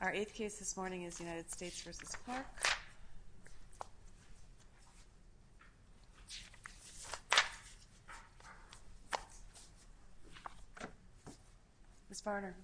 Our eighth case this morning is United States v. Clark. Ms. Barnard.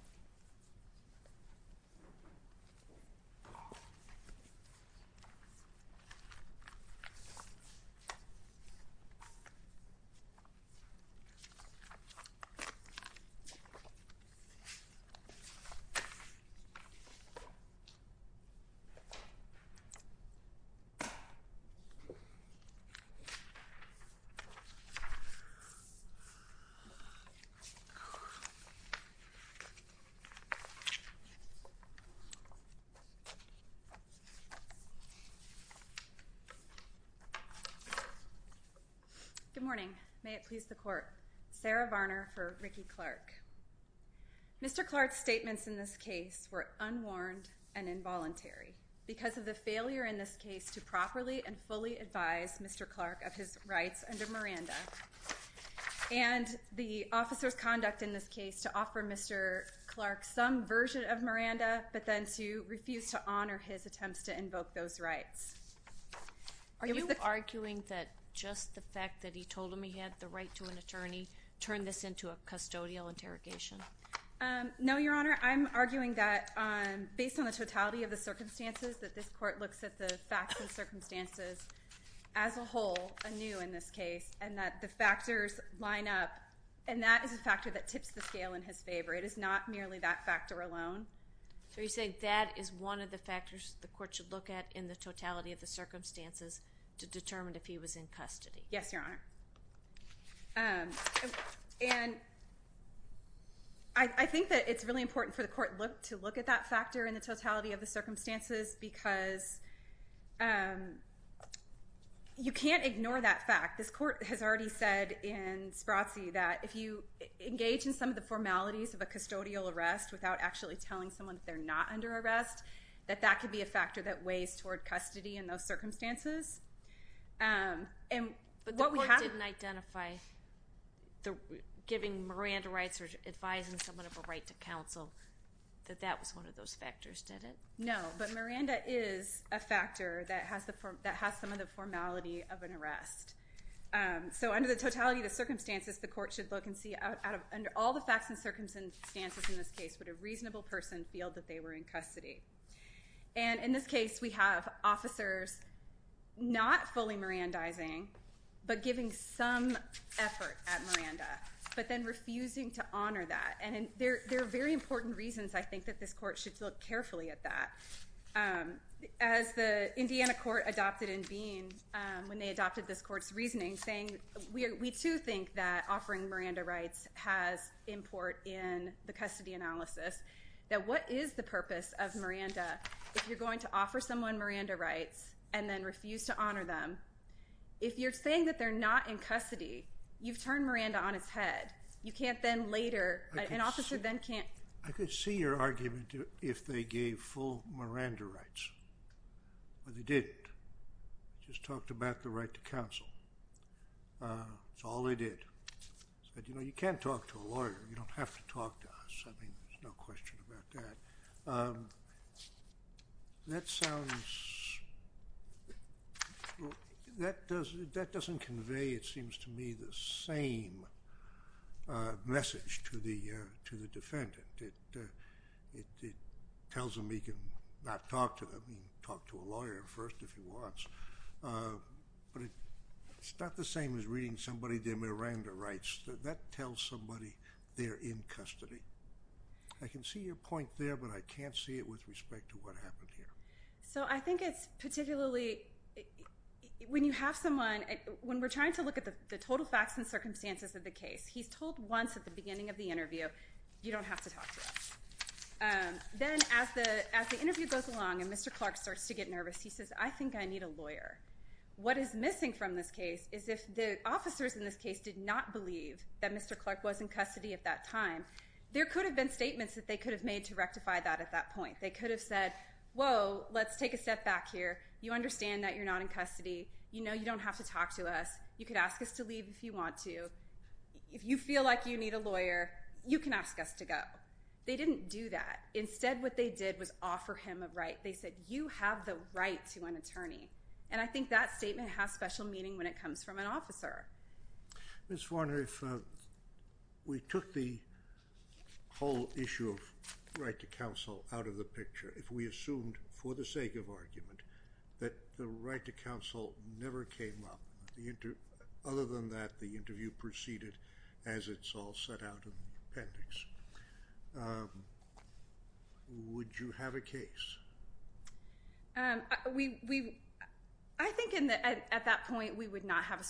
Good morning. May it please the court. Sarah Barnard for Ricky Clark. Mr. Clark's statements in this case were unwarned and involuntary because of the failure in this case to properly and fully advise Mr. Clark of his rights under Miranda and the officer's conduct in this case to offer Mr. Clark some version of Miranda but then to refuse to honor his attempts to invoke those rights. Are you arguing that just the fact that he told him he had the right to an attorney turned this into a custodial interrogation? No, Your Honor. I'm arguing that based on the totality of the circumstances that this court looks at the facts and circumstances as a whole anew in this case and that the factors line up and that is a factor that tips the scale in his favor. It is not merely that factor alone. So you're saying that is one of the factors the court should look at in the totality of the circumstances to determine if he was in custody? Yes, Your Honor. And I think that it's really important for the court to look at that factor in the totality of the circumstances because you can't ignore that fact. This court has already said in Spratzy that if you engage in some of the formalities of a custodial arrest without actually telling someone that they're not under arrest that that could be a factor that weighs toward custody in those circumstances. But the court didn't identify giving Miranda rights or advising someone of a right to counsel that that was one of those factors, did it? No, but Miranda is a factor that has some of the formality of an arrest. So under the totality of the circumstances the court should look and see out of all the facts and circumstances in this case would a reasonable person feel that they were in custody. And in this case we have officers not fully Mirandizing but giving some effort at Miranda but then refusing to honor that. And there are very important reasons I think that this court should look carefully at that. As the Indiana court adopted in Bean when they adopted this court's reasoning saying we too think that offering Miranda rights has import in the custody analysis. Now what is the purpose of Miranda if you're going to offer someone Miranda rights and then refuse to honor them? If you're saying that they're not in custody you've turned Miranda on its head. You can't then later, an officer then can't. I could see your argument if they gave full Miranda rights. But they didn't. Just talked about the right to counsel. That's all they did. You can't talk to a lawyer. You don't have to talk to us. There's no question about that. That sounds, that doesn't convey it seems to me the same message to the defendant. It tells him he can not talk to them. He can talk to a lawyer first if he wants. But it's not the same as reading somebody their Miranda rights. That tells somebody they're in custody. I can see your point there but I can't see it with respect to what happened here. So I think it's particularly when you have someone, when we're trying to look at the total facts and circumstances of the case, he's told once at the beginning of the interview you don't have to talk to us. Then as the interview goes along and Mr. Clark starts to get nervous he says I think I need a lawyer. What is missing from this case is if the officers in this case did not believe that Mr. Clark was in custody at that time, there could have been statements that they could have made to rectify that at that point. They could have said, whoa, let's take a step back here. You understand that you're not in custody. You know you don't have to talk to us. You could ask us to leave if you want to. If you feel like you need a lawyer, you can ask us to go. They didn't do that. Instead what they did was offer him a right. They said you have the right to an attorney. I think that statement has special meaning when it comes from an officer. Ms. Varner, if we took the whole issue of right to counsel out of the picture, if we assumed for the sake of argument that the right to counsel never came up, other than that the interview proceeded as it's all set out in the appendix, would you have a case? I think at that point we would not have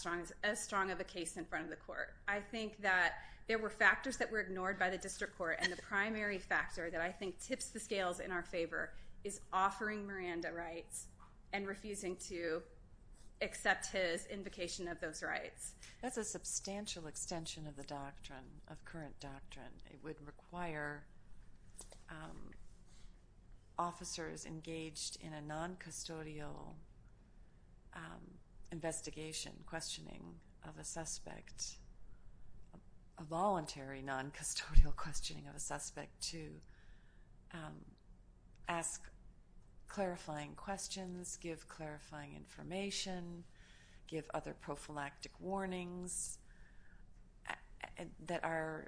as strong of a case in front of the court. I think that there were factors that were ignored by the district court, and the primary factor that I think tips the scales in our favor is offering Miranda rights and refusing to accept his invocation of those rights. That's a substantial extension of the doctrine, of current doctrine. It would require officers engaged in a non-custodial investigation, questioning of a suspect, a voluntary non-custodial questioning of a suspect, to ask clarifying questions, give clarifying information, give other prophylactic warnings that are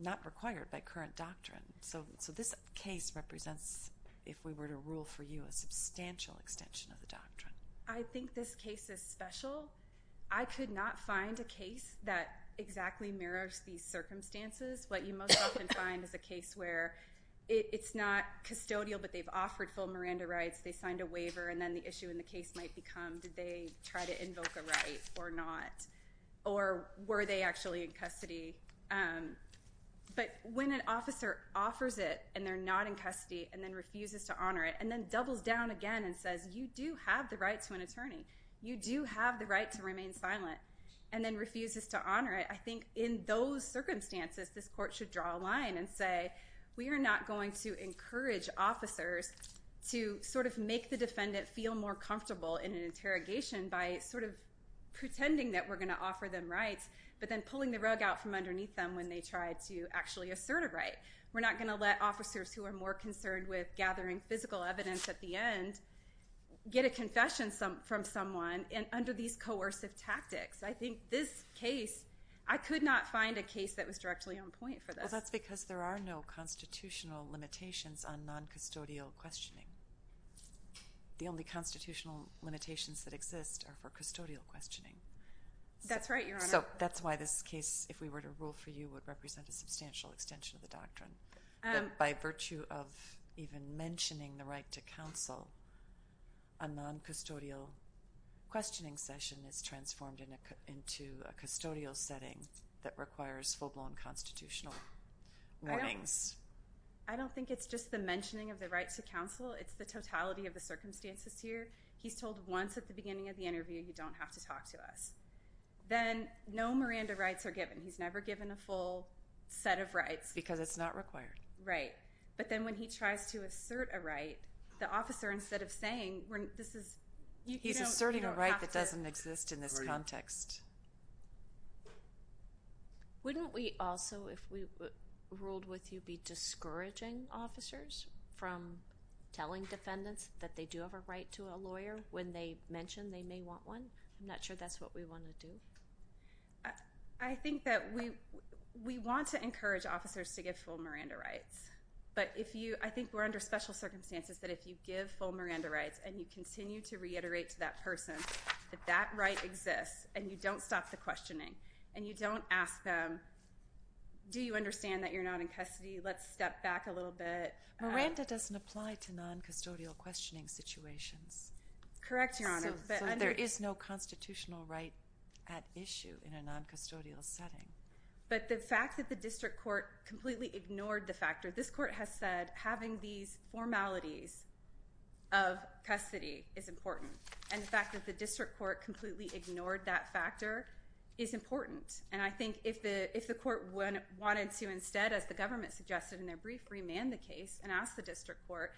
not required by current doctrine. So this case represents, if we were to rule for you, a substantial extension of the doctrine. I think this case is special. I could not find a case that exactly mirrors these circumstances. What you most often find is a case where it's not custodial, but they've offered full Miranda rights. They signed a waiver, and then the issue in the case might become, did they try to invoke a right or not, or were they actually in custody? But when an officer offers it and they're not in custody and then refuses to honor it and then doubles down again and says, you do have the right to an attorney, you do have the right to remain silent, and then refuses to honor it, I think in those circumstances this court should draw a line and say, we are not going to encourage officers to sort of make the defendant feel more comfortable in an interrogation by sort of pretending that we're going to offer them rights, but then pulling the rug out from underneath them when they try to actually assert a right. We're not going to let officers who are more concerned with gathering physical evidence at the end get a confession from someone under these coercive tactics. I think this case, I could not find a case that was directly on point for this. Because that's because there are no constitutional limitations on noncustodial questioning. The only constitutional limitations that exist are for custodial questioning. That's right, Your Honor. So that's why this case, if we were to rule for you, would represent a substantial extension of the doctrine. By virtue of even mentioning the right to counsel, a noncustodial questioning session is transformed into a custodial setting that requires full-blown constitutional warnings. I don't think it's just the mentioning of the right to counsel. It's the totality of the circumstances here. He's told once at the beginning of the interview, you don't have to talk to us. Then no Miranda rights are given. He's never given a full set of rights. Because it's not required. Right. But then when he tries to assert a right, the officer, instead of saying, this is... He's asserting a right that doesn't exist in this context. Wouldn't we also, if we ruled with you, be discouraging officers from telling defendants that they do have a right to a lawyer when they mention they may want one? I'm not sure that's what we want to do. I think that we want to encourage officers to give full Miranda rights. But I think we're under special circumstances that if you give full Miranda rights and you continue to reiterate to that person that that right exists and you don't stop the questioning and you don't ask them, do you understand that you're not in custody? Let's step back a little bit. Miranda doesn't apply to non-custodial questioning situations. Correct, Your Honor. So there is no constitutional right at issue in a non-custodial setting. But the fact that the district court completely ignored the factor. This court has said having these formalities of custody is important. And the fact that the district court completely ignored that factor is important. And I think if the court wanted to instead, as the government suggested in their brief, remand the case and ask the district court,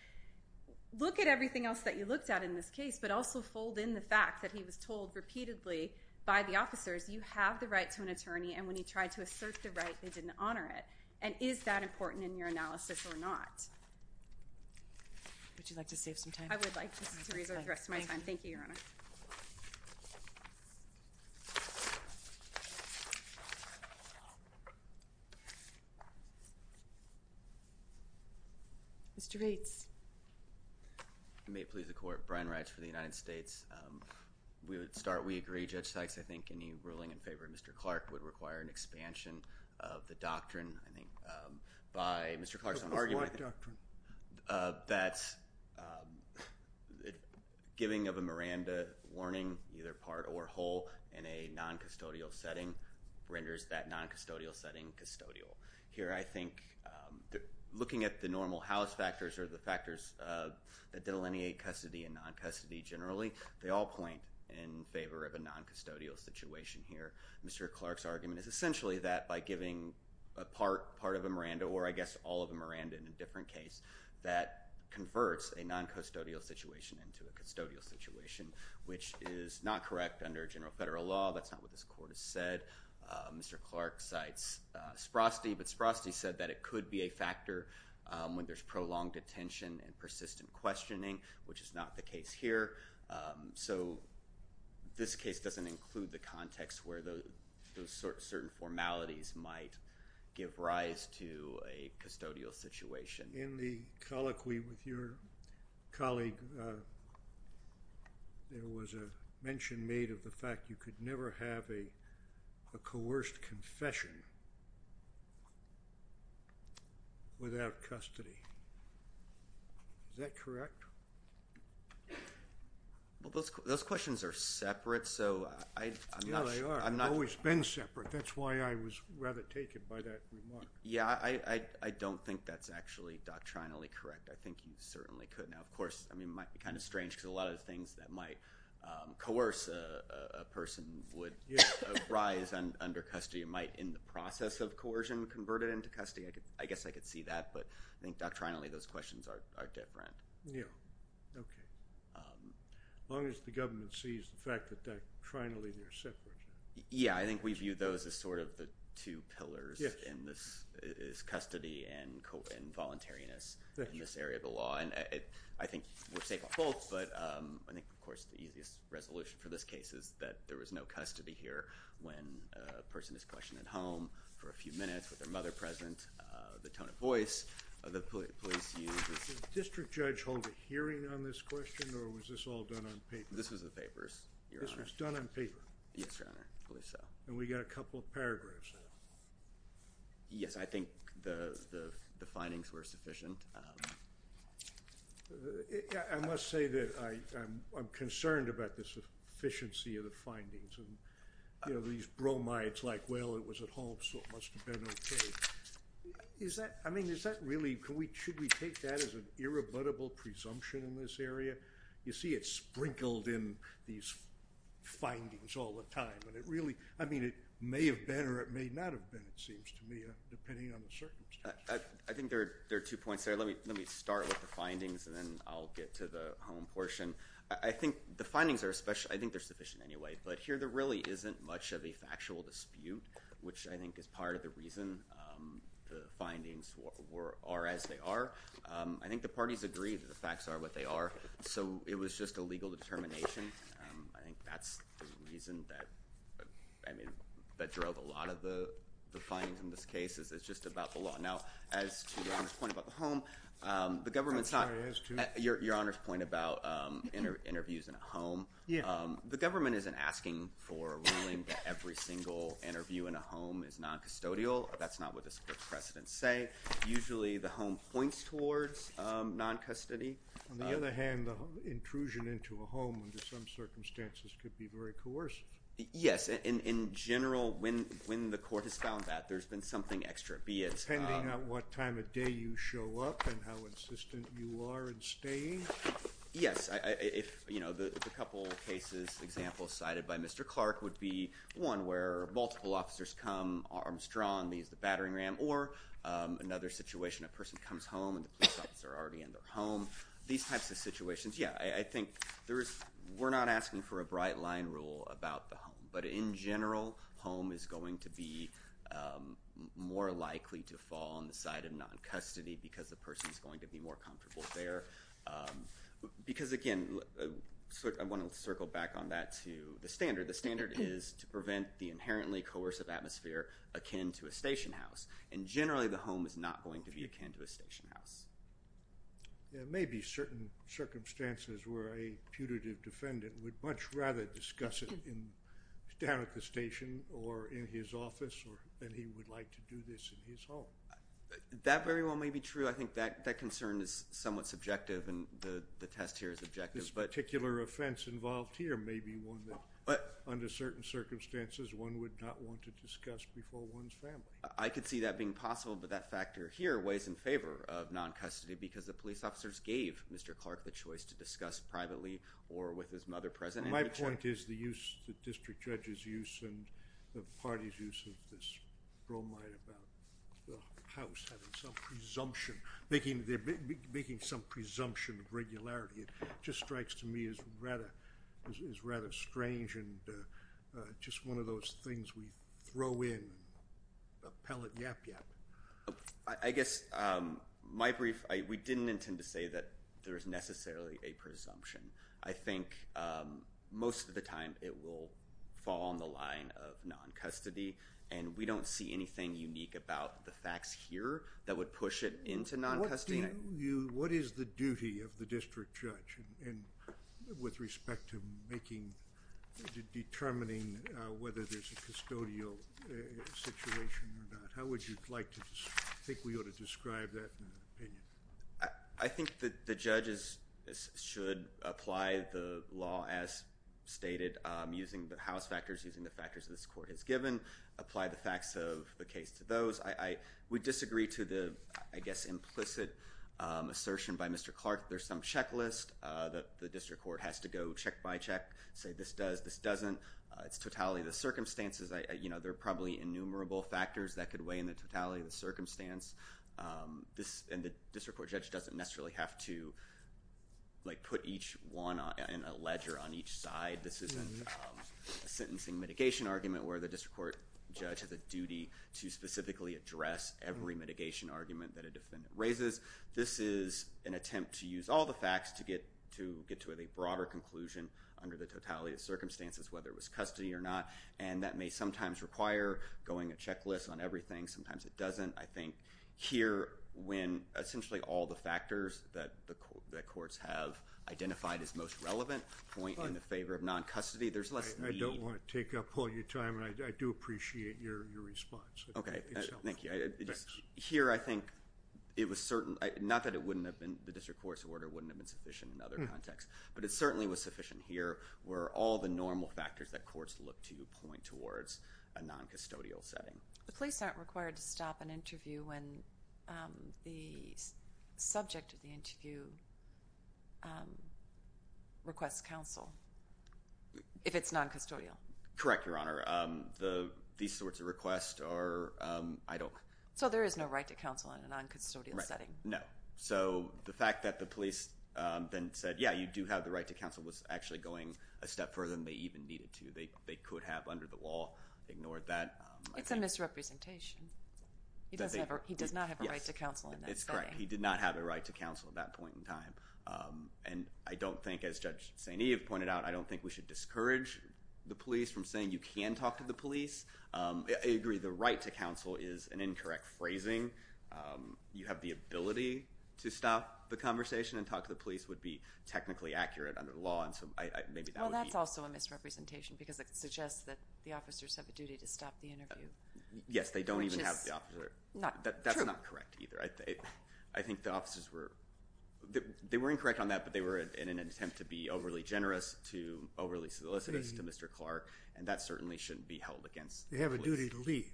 look at everything else that you looked at in this case, but also fold in the fact that he was told repeatedly by the officers, you have the right to an attorney. And when he tried to assert the right, they didn't honor it. And is that important in your analysis or not? Would you like to save some time? I would like just to reserve the rest of my time. Thank you, Your Honor. Mr. Bates. May it please the Court. Brian Rites for the United States. We would start. We agree, Judge Sykes. I think any ruling in favor of Mr. Clark would require an expansion of the doctrine. By Mr. Clark's own argument. What doctrine? That giving of a Miranda warning, either part or whole, in a non-custodial setting renders that non-custodial setting custodial. Here I think looking at the normal house factors or the factors that delineate custody and non-custody generally, they all point in favor of a non-custodial situation here. Mr. Clark's argument is essentially that by giving a part of a Miranda, or I guess all of a Miranda in a different case, that converts a non-custodial situation into a custodial situation, which is not correct under general federal law. That's not what this Court has said. Mr. Clark cites Sprosty, but Sprosty said that it could be a factor when there's prolonged attention and persistent questioning, which is not the case here. So this case doesn't include the context where those certain formalities might give rise to a custodial situation. In the colloquy with your colleague, there was a mention made of the fact you could never have a coerced confession without custody. Is that correct? Well, those questions are separate, so I'm not sure. Yeah, they are. They've always been separate. That's why I was rather taken by that remark. Yeah, I don't think that's actually doctrinally correct. I think you certainly could. Now, of course, I mean it might be kind of strange because a lot of the things that might coerce a person would rise under custody. It might, in the process of coercion, convert it into custody. I guess I could see that, but I think doctrinally those questions are different. Yeah, okay. As long as the government sees the fact that doctrinally they're separate. Yeah, I think we view those as sort of the two pillars in this, is custody and voluntariness in this area of the law. And I think we're safe on both, but I think, of course, the easiest resolution for this case is that there was no custody here when a person is questioned at home for a few minutes with their mother present, the tone of voice, the police use. Does the district judge hold a hearing on this question, or was this all done on paper? This was the papers, Your Honor. This was done on paper? Yes, Your Honor, I believe so. And we got a couple of paragraphs there. Yes, I think the findings were sufficient. I must say that I'm concerned about the sufficiency of the findings and these bromides like, well, it was at home so it must have been okay. Should we take that as an irrebuttable presumption in this area? You see it sprinkled in these findings all the time. I mean, it may have been or it may not have been, it seems to me, depending on the circumstance. I think there are two points there. Let me start with the findings and then I'll get to the home portion. I think the findings are sufficient anyway, but here there really isn't much of a factual dispute, which I think is part of the reason the findings are as they are. I think the parties agree that the facts are what they are, so it was just a legal determination. I think that's the reason that drove a lot of the findings in this case, is it's just about the law. Now, as to Your Honor's point about the home, the government's not. I'm sorry, as to? Your Honor's point about interviews in a home. The government isn't asking for ruling that every single interview in a home is noncustodial. That's not what the precedents say. Usually the home points towards noncustody. On the other hand, the intrusion into a home under some circumstances could be very coercive. Yes. In general, when the court has found that, there's been something extra. Be it. Depending on what time of day you show up and how insistent you are in staying. Yes. The couple of cases, examples cited by Mr. Clark, would be one where multiple officers come, arms drawn, leaves the battering ram, or another situation, a person comes home and the police officers are already in their home. These types of situations, yeah. I think we're not asking for a bright line rule about the home. But in general, home is going to be more likely to fall on the side of noncustody because the person is going to be more comfortable there. Because, again, I want to circle back on that to the standard. The standard is to prevent the inherently coercive atmosphere akin to a station house. And generally the home is not going to be akin to a station house. There may be certain circumstances where a putative defendant would much rather discuss it down at the station or in his office than he would like to do this in his home. That very well may be true. I think that concern is somewhat subjective and the test here is objective. This particular offense involved here may be one that, under certain circumstances, one would not want to discuss before one's family. I could see that being possible, but that factor here weighs in favor of noncustody because the police officers gave Mr. Clark the choice to discuss privately or with his mother present. My point is the use, the district judge's use and the party's use of this bromide about the presumption of regularity just strikes to me as rather strange and just one of those things we throw in and pellet yap yap. I guess my brief, we didn't intend to say that there is necessarily a presumption. I think most of the time it will fall on the line of noncustody and we would push it into noncustody. What do you, what is the duty of the district judge and with respect to making, determining whether there's a custodial situation or not? How would you like to think we ought to describe that in an opinion? I think that the judges should apply the law as stated, using the house factors, using the factors that this court has given, apply the facts of the case to those. I would disagree to the, I guess implicit assertion by Mr. Clark. There's some checklist that the district court has to go check by check, say this does, this doesn't, it's totality of the circumstances. I, you know, there are probably innumerable factors that could weigh in the totality of the circumstance. This and the district court judge doesn't necessarily have to like put each one in a ledger on each side. This isn't a sentencing mitigation argument where the district court judge has a duty to specifically address every mitigation argument that a defendant raises. This is an attempt to use all the facts to get, to get to a broader conclusion under the totality of circumstances, whether it was custody or not. And that may sometimes require going a checklist on everything. Sometimes it doesn't. I think here when essentially all the factors that the courts have identified as most relevant point in the favor of non-custody, there's less. I don't want to take up all your time and I do appreciate your, your response. Okay. Thank you. Here. I think it was certain, not that it wouldn't have been the district court's order wouldn't have been sufficient in other contexts, but it certainly was sufficient here where all the normal factors that courts look to point towards a non-custodial setting. The police aren't required to stop an interview when the subject of the interview requests counsel. If it's non-custodial. Correct. Your Honor. The, these sorts of requests are I don't. So there is no right to counsel in a non-custodial setting. No. So the fact that the police then said, yeah, you do have the right to counsel was actually going a step further than they even needed to. They, they could have under the law ignored that. It's a misrepresentation. He doesn't ever, he does not have a right to counsel. It's correct. He did not have a right to counsel at that point in time. And I don't think as Judge Sainee have pointed out, I don't think we should discourage the police from saying you can talk to the police. I agree. The right to counsel is an incorrect phrasing. You have the ability to stop the conversation and talk to the police would be technically accurate under the law. And so I, maybe that would be. Well, that's also a misrepresentation because it suggests that the officers have a duty to stop the interview. Yes. They don't even have the officer. That's not correct either. I think the officers were, they were incorrect on that, but they were in an attempt to be overly generous to overly solicitous to Mr. Clark. And that certainly shouldn't be held against. They have a duty to leave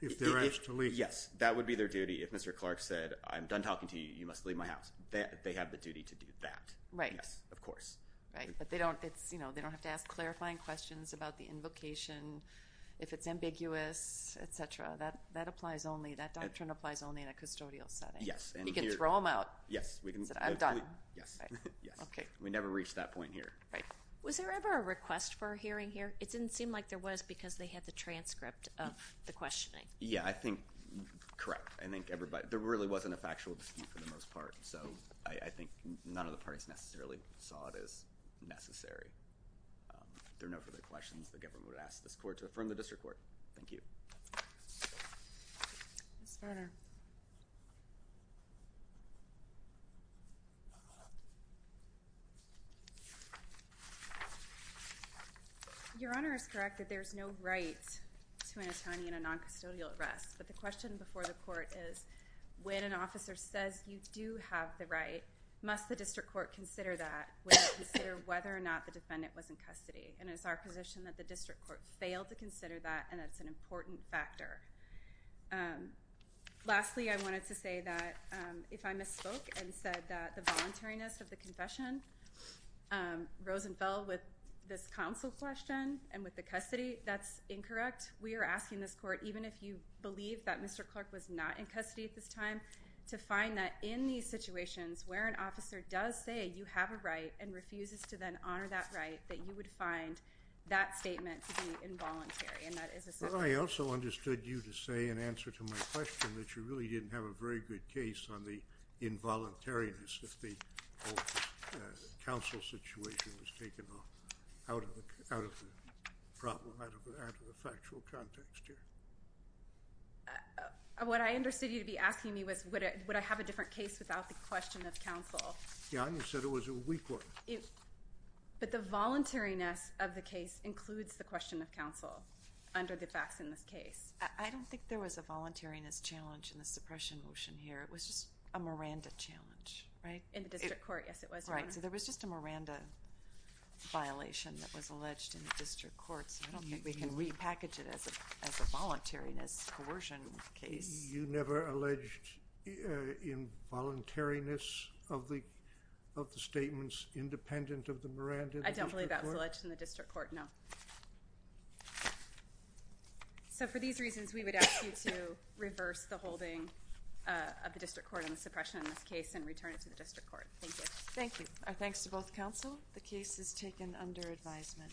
if they're asked to leave. Yes. That would be their duty. If Mr. Clark said, I'm done talking to you, you must leave my house. They have the duty to do that. Right. Of course. Right. But they don't, it's, you know, they don't have to ask clarifying questions about the invocation. If it's ambiguous, et cetera, that, that applies only. That doctrine applies only in a custodial setting. Yes. You can throw them out. Yes, we can. I'm done. Yes. Okay. We never reached that point here. Right. Was there ever a request for a hearing here? It didn't seem like there was because they had the transcript of the questioning. Yeah, I think. Correct. I think everybody, there really wasn't a factual dispute for the most part. So I think none of the parties necessarily saw it as necessary. There are no further questions. The government would ask this court to affirm the district court. Thank you. Ms. Garner. Your Honor is correct that there is no right to an attorney in a non-custodial arrest. But the question before the court is when an officer says you do have the right, must the district court consider that? Would it consider whether or not the defendant was in custody? And it's our position that the district court failed to consider that and that's an important factor. Lastly, I wanted to say that if I misspoke and said that the voluntariness of the confession rose and fell with this counsel question and with the custody, that's incorrect. We are asking this court, even if you believe that Mr. Clark was not in custody at this time, to find that in these situations where an officer does say you have a right and refuses to then honor that right, that you would find that statement to be inconsistent. I also understood you to say in answer to my question that you really didn't have a very good case on the involuntariness that the counsel situation was taken out of the problem, out of the factual context here. What I understood you to be asking me was would I have a different case without the question of counsel? Your Honor said it was a weak one. But the voluntariness of the case includes the question of the facts in this case. I don't think there was a voluntariness challenge in the suppression motion here. It was just a Miranda challenge, right? In the district court, yes, it was, Your Honor. Right. So there was just a Miranda violation that was alleged in the district court. I don't think we can repackage it as a voluntariness coercion case. You never alleged involuntariness of the statements independent of the Miranda? I don't believe that was alleged in the district court, no. So for these reasons, we would ask you to reverse the holding of the district court on the suppression in this case and return it to the district court. Thank you. Thank you. Our thanks to both counsel. The case is taken under advisement.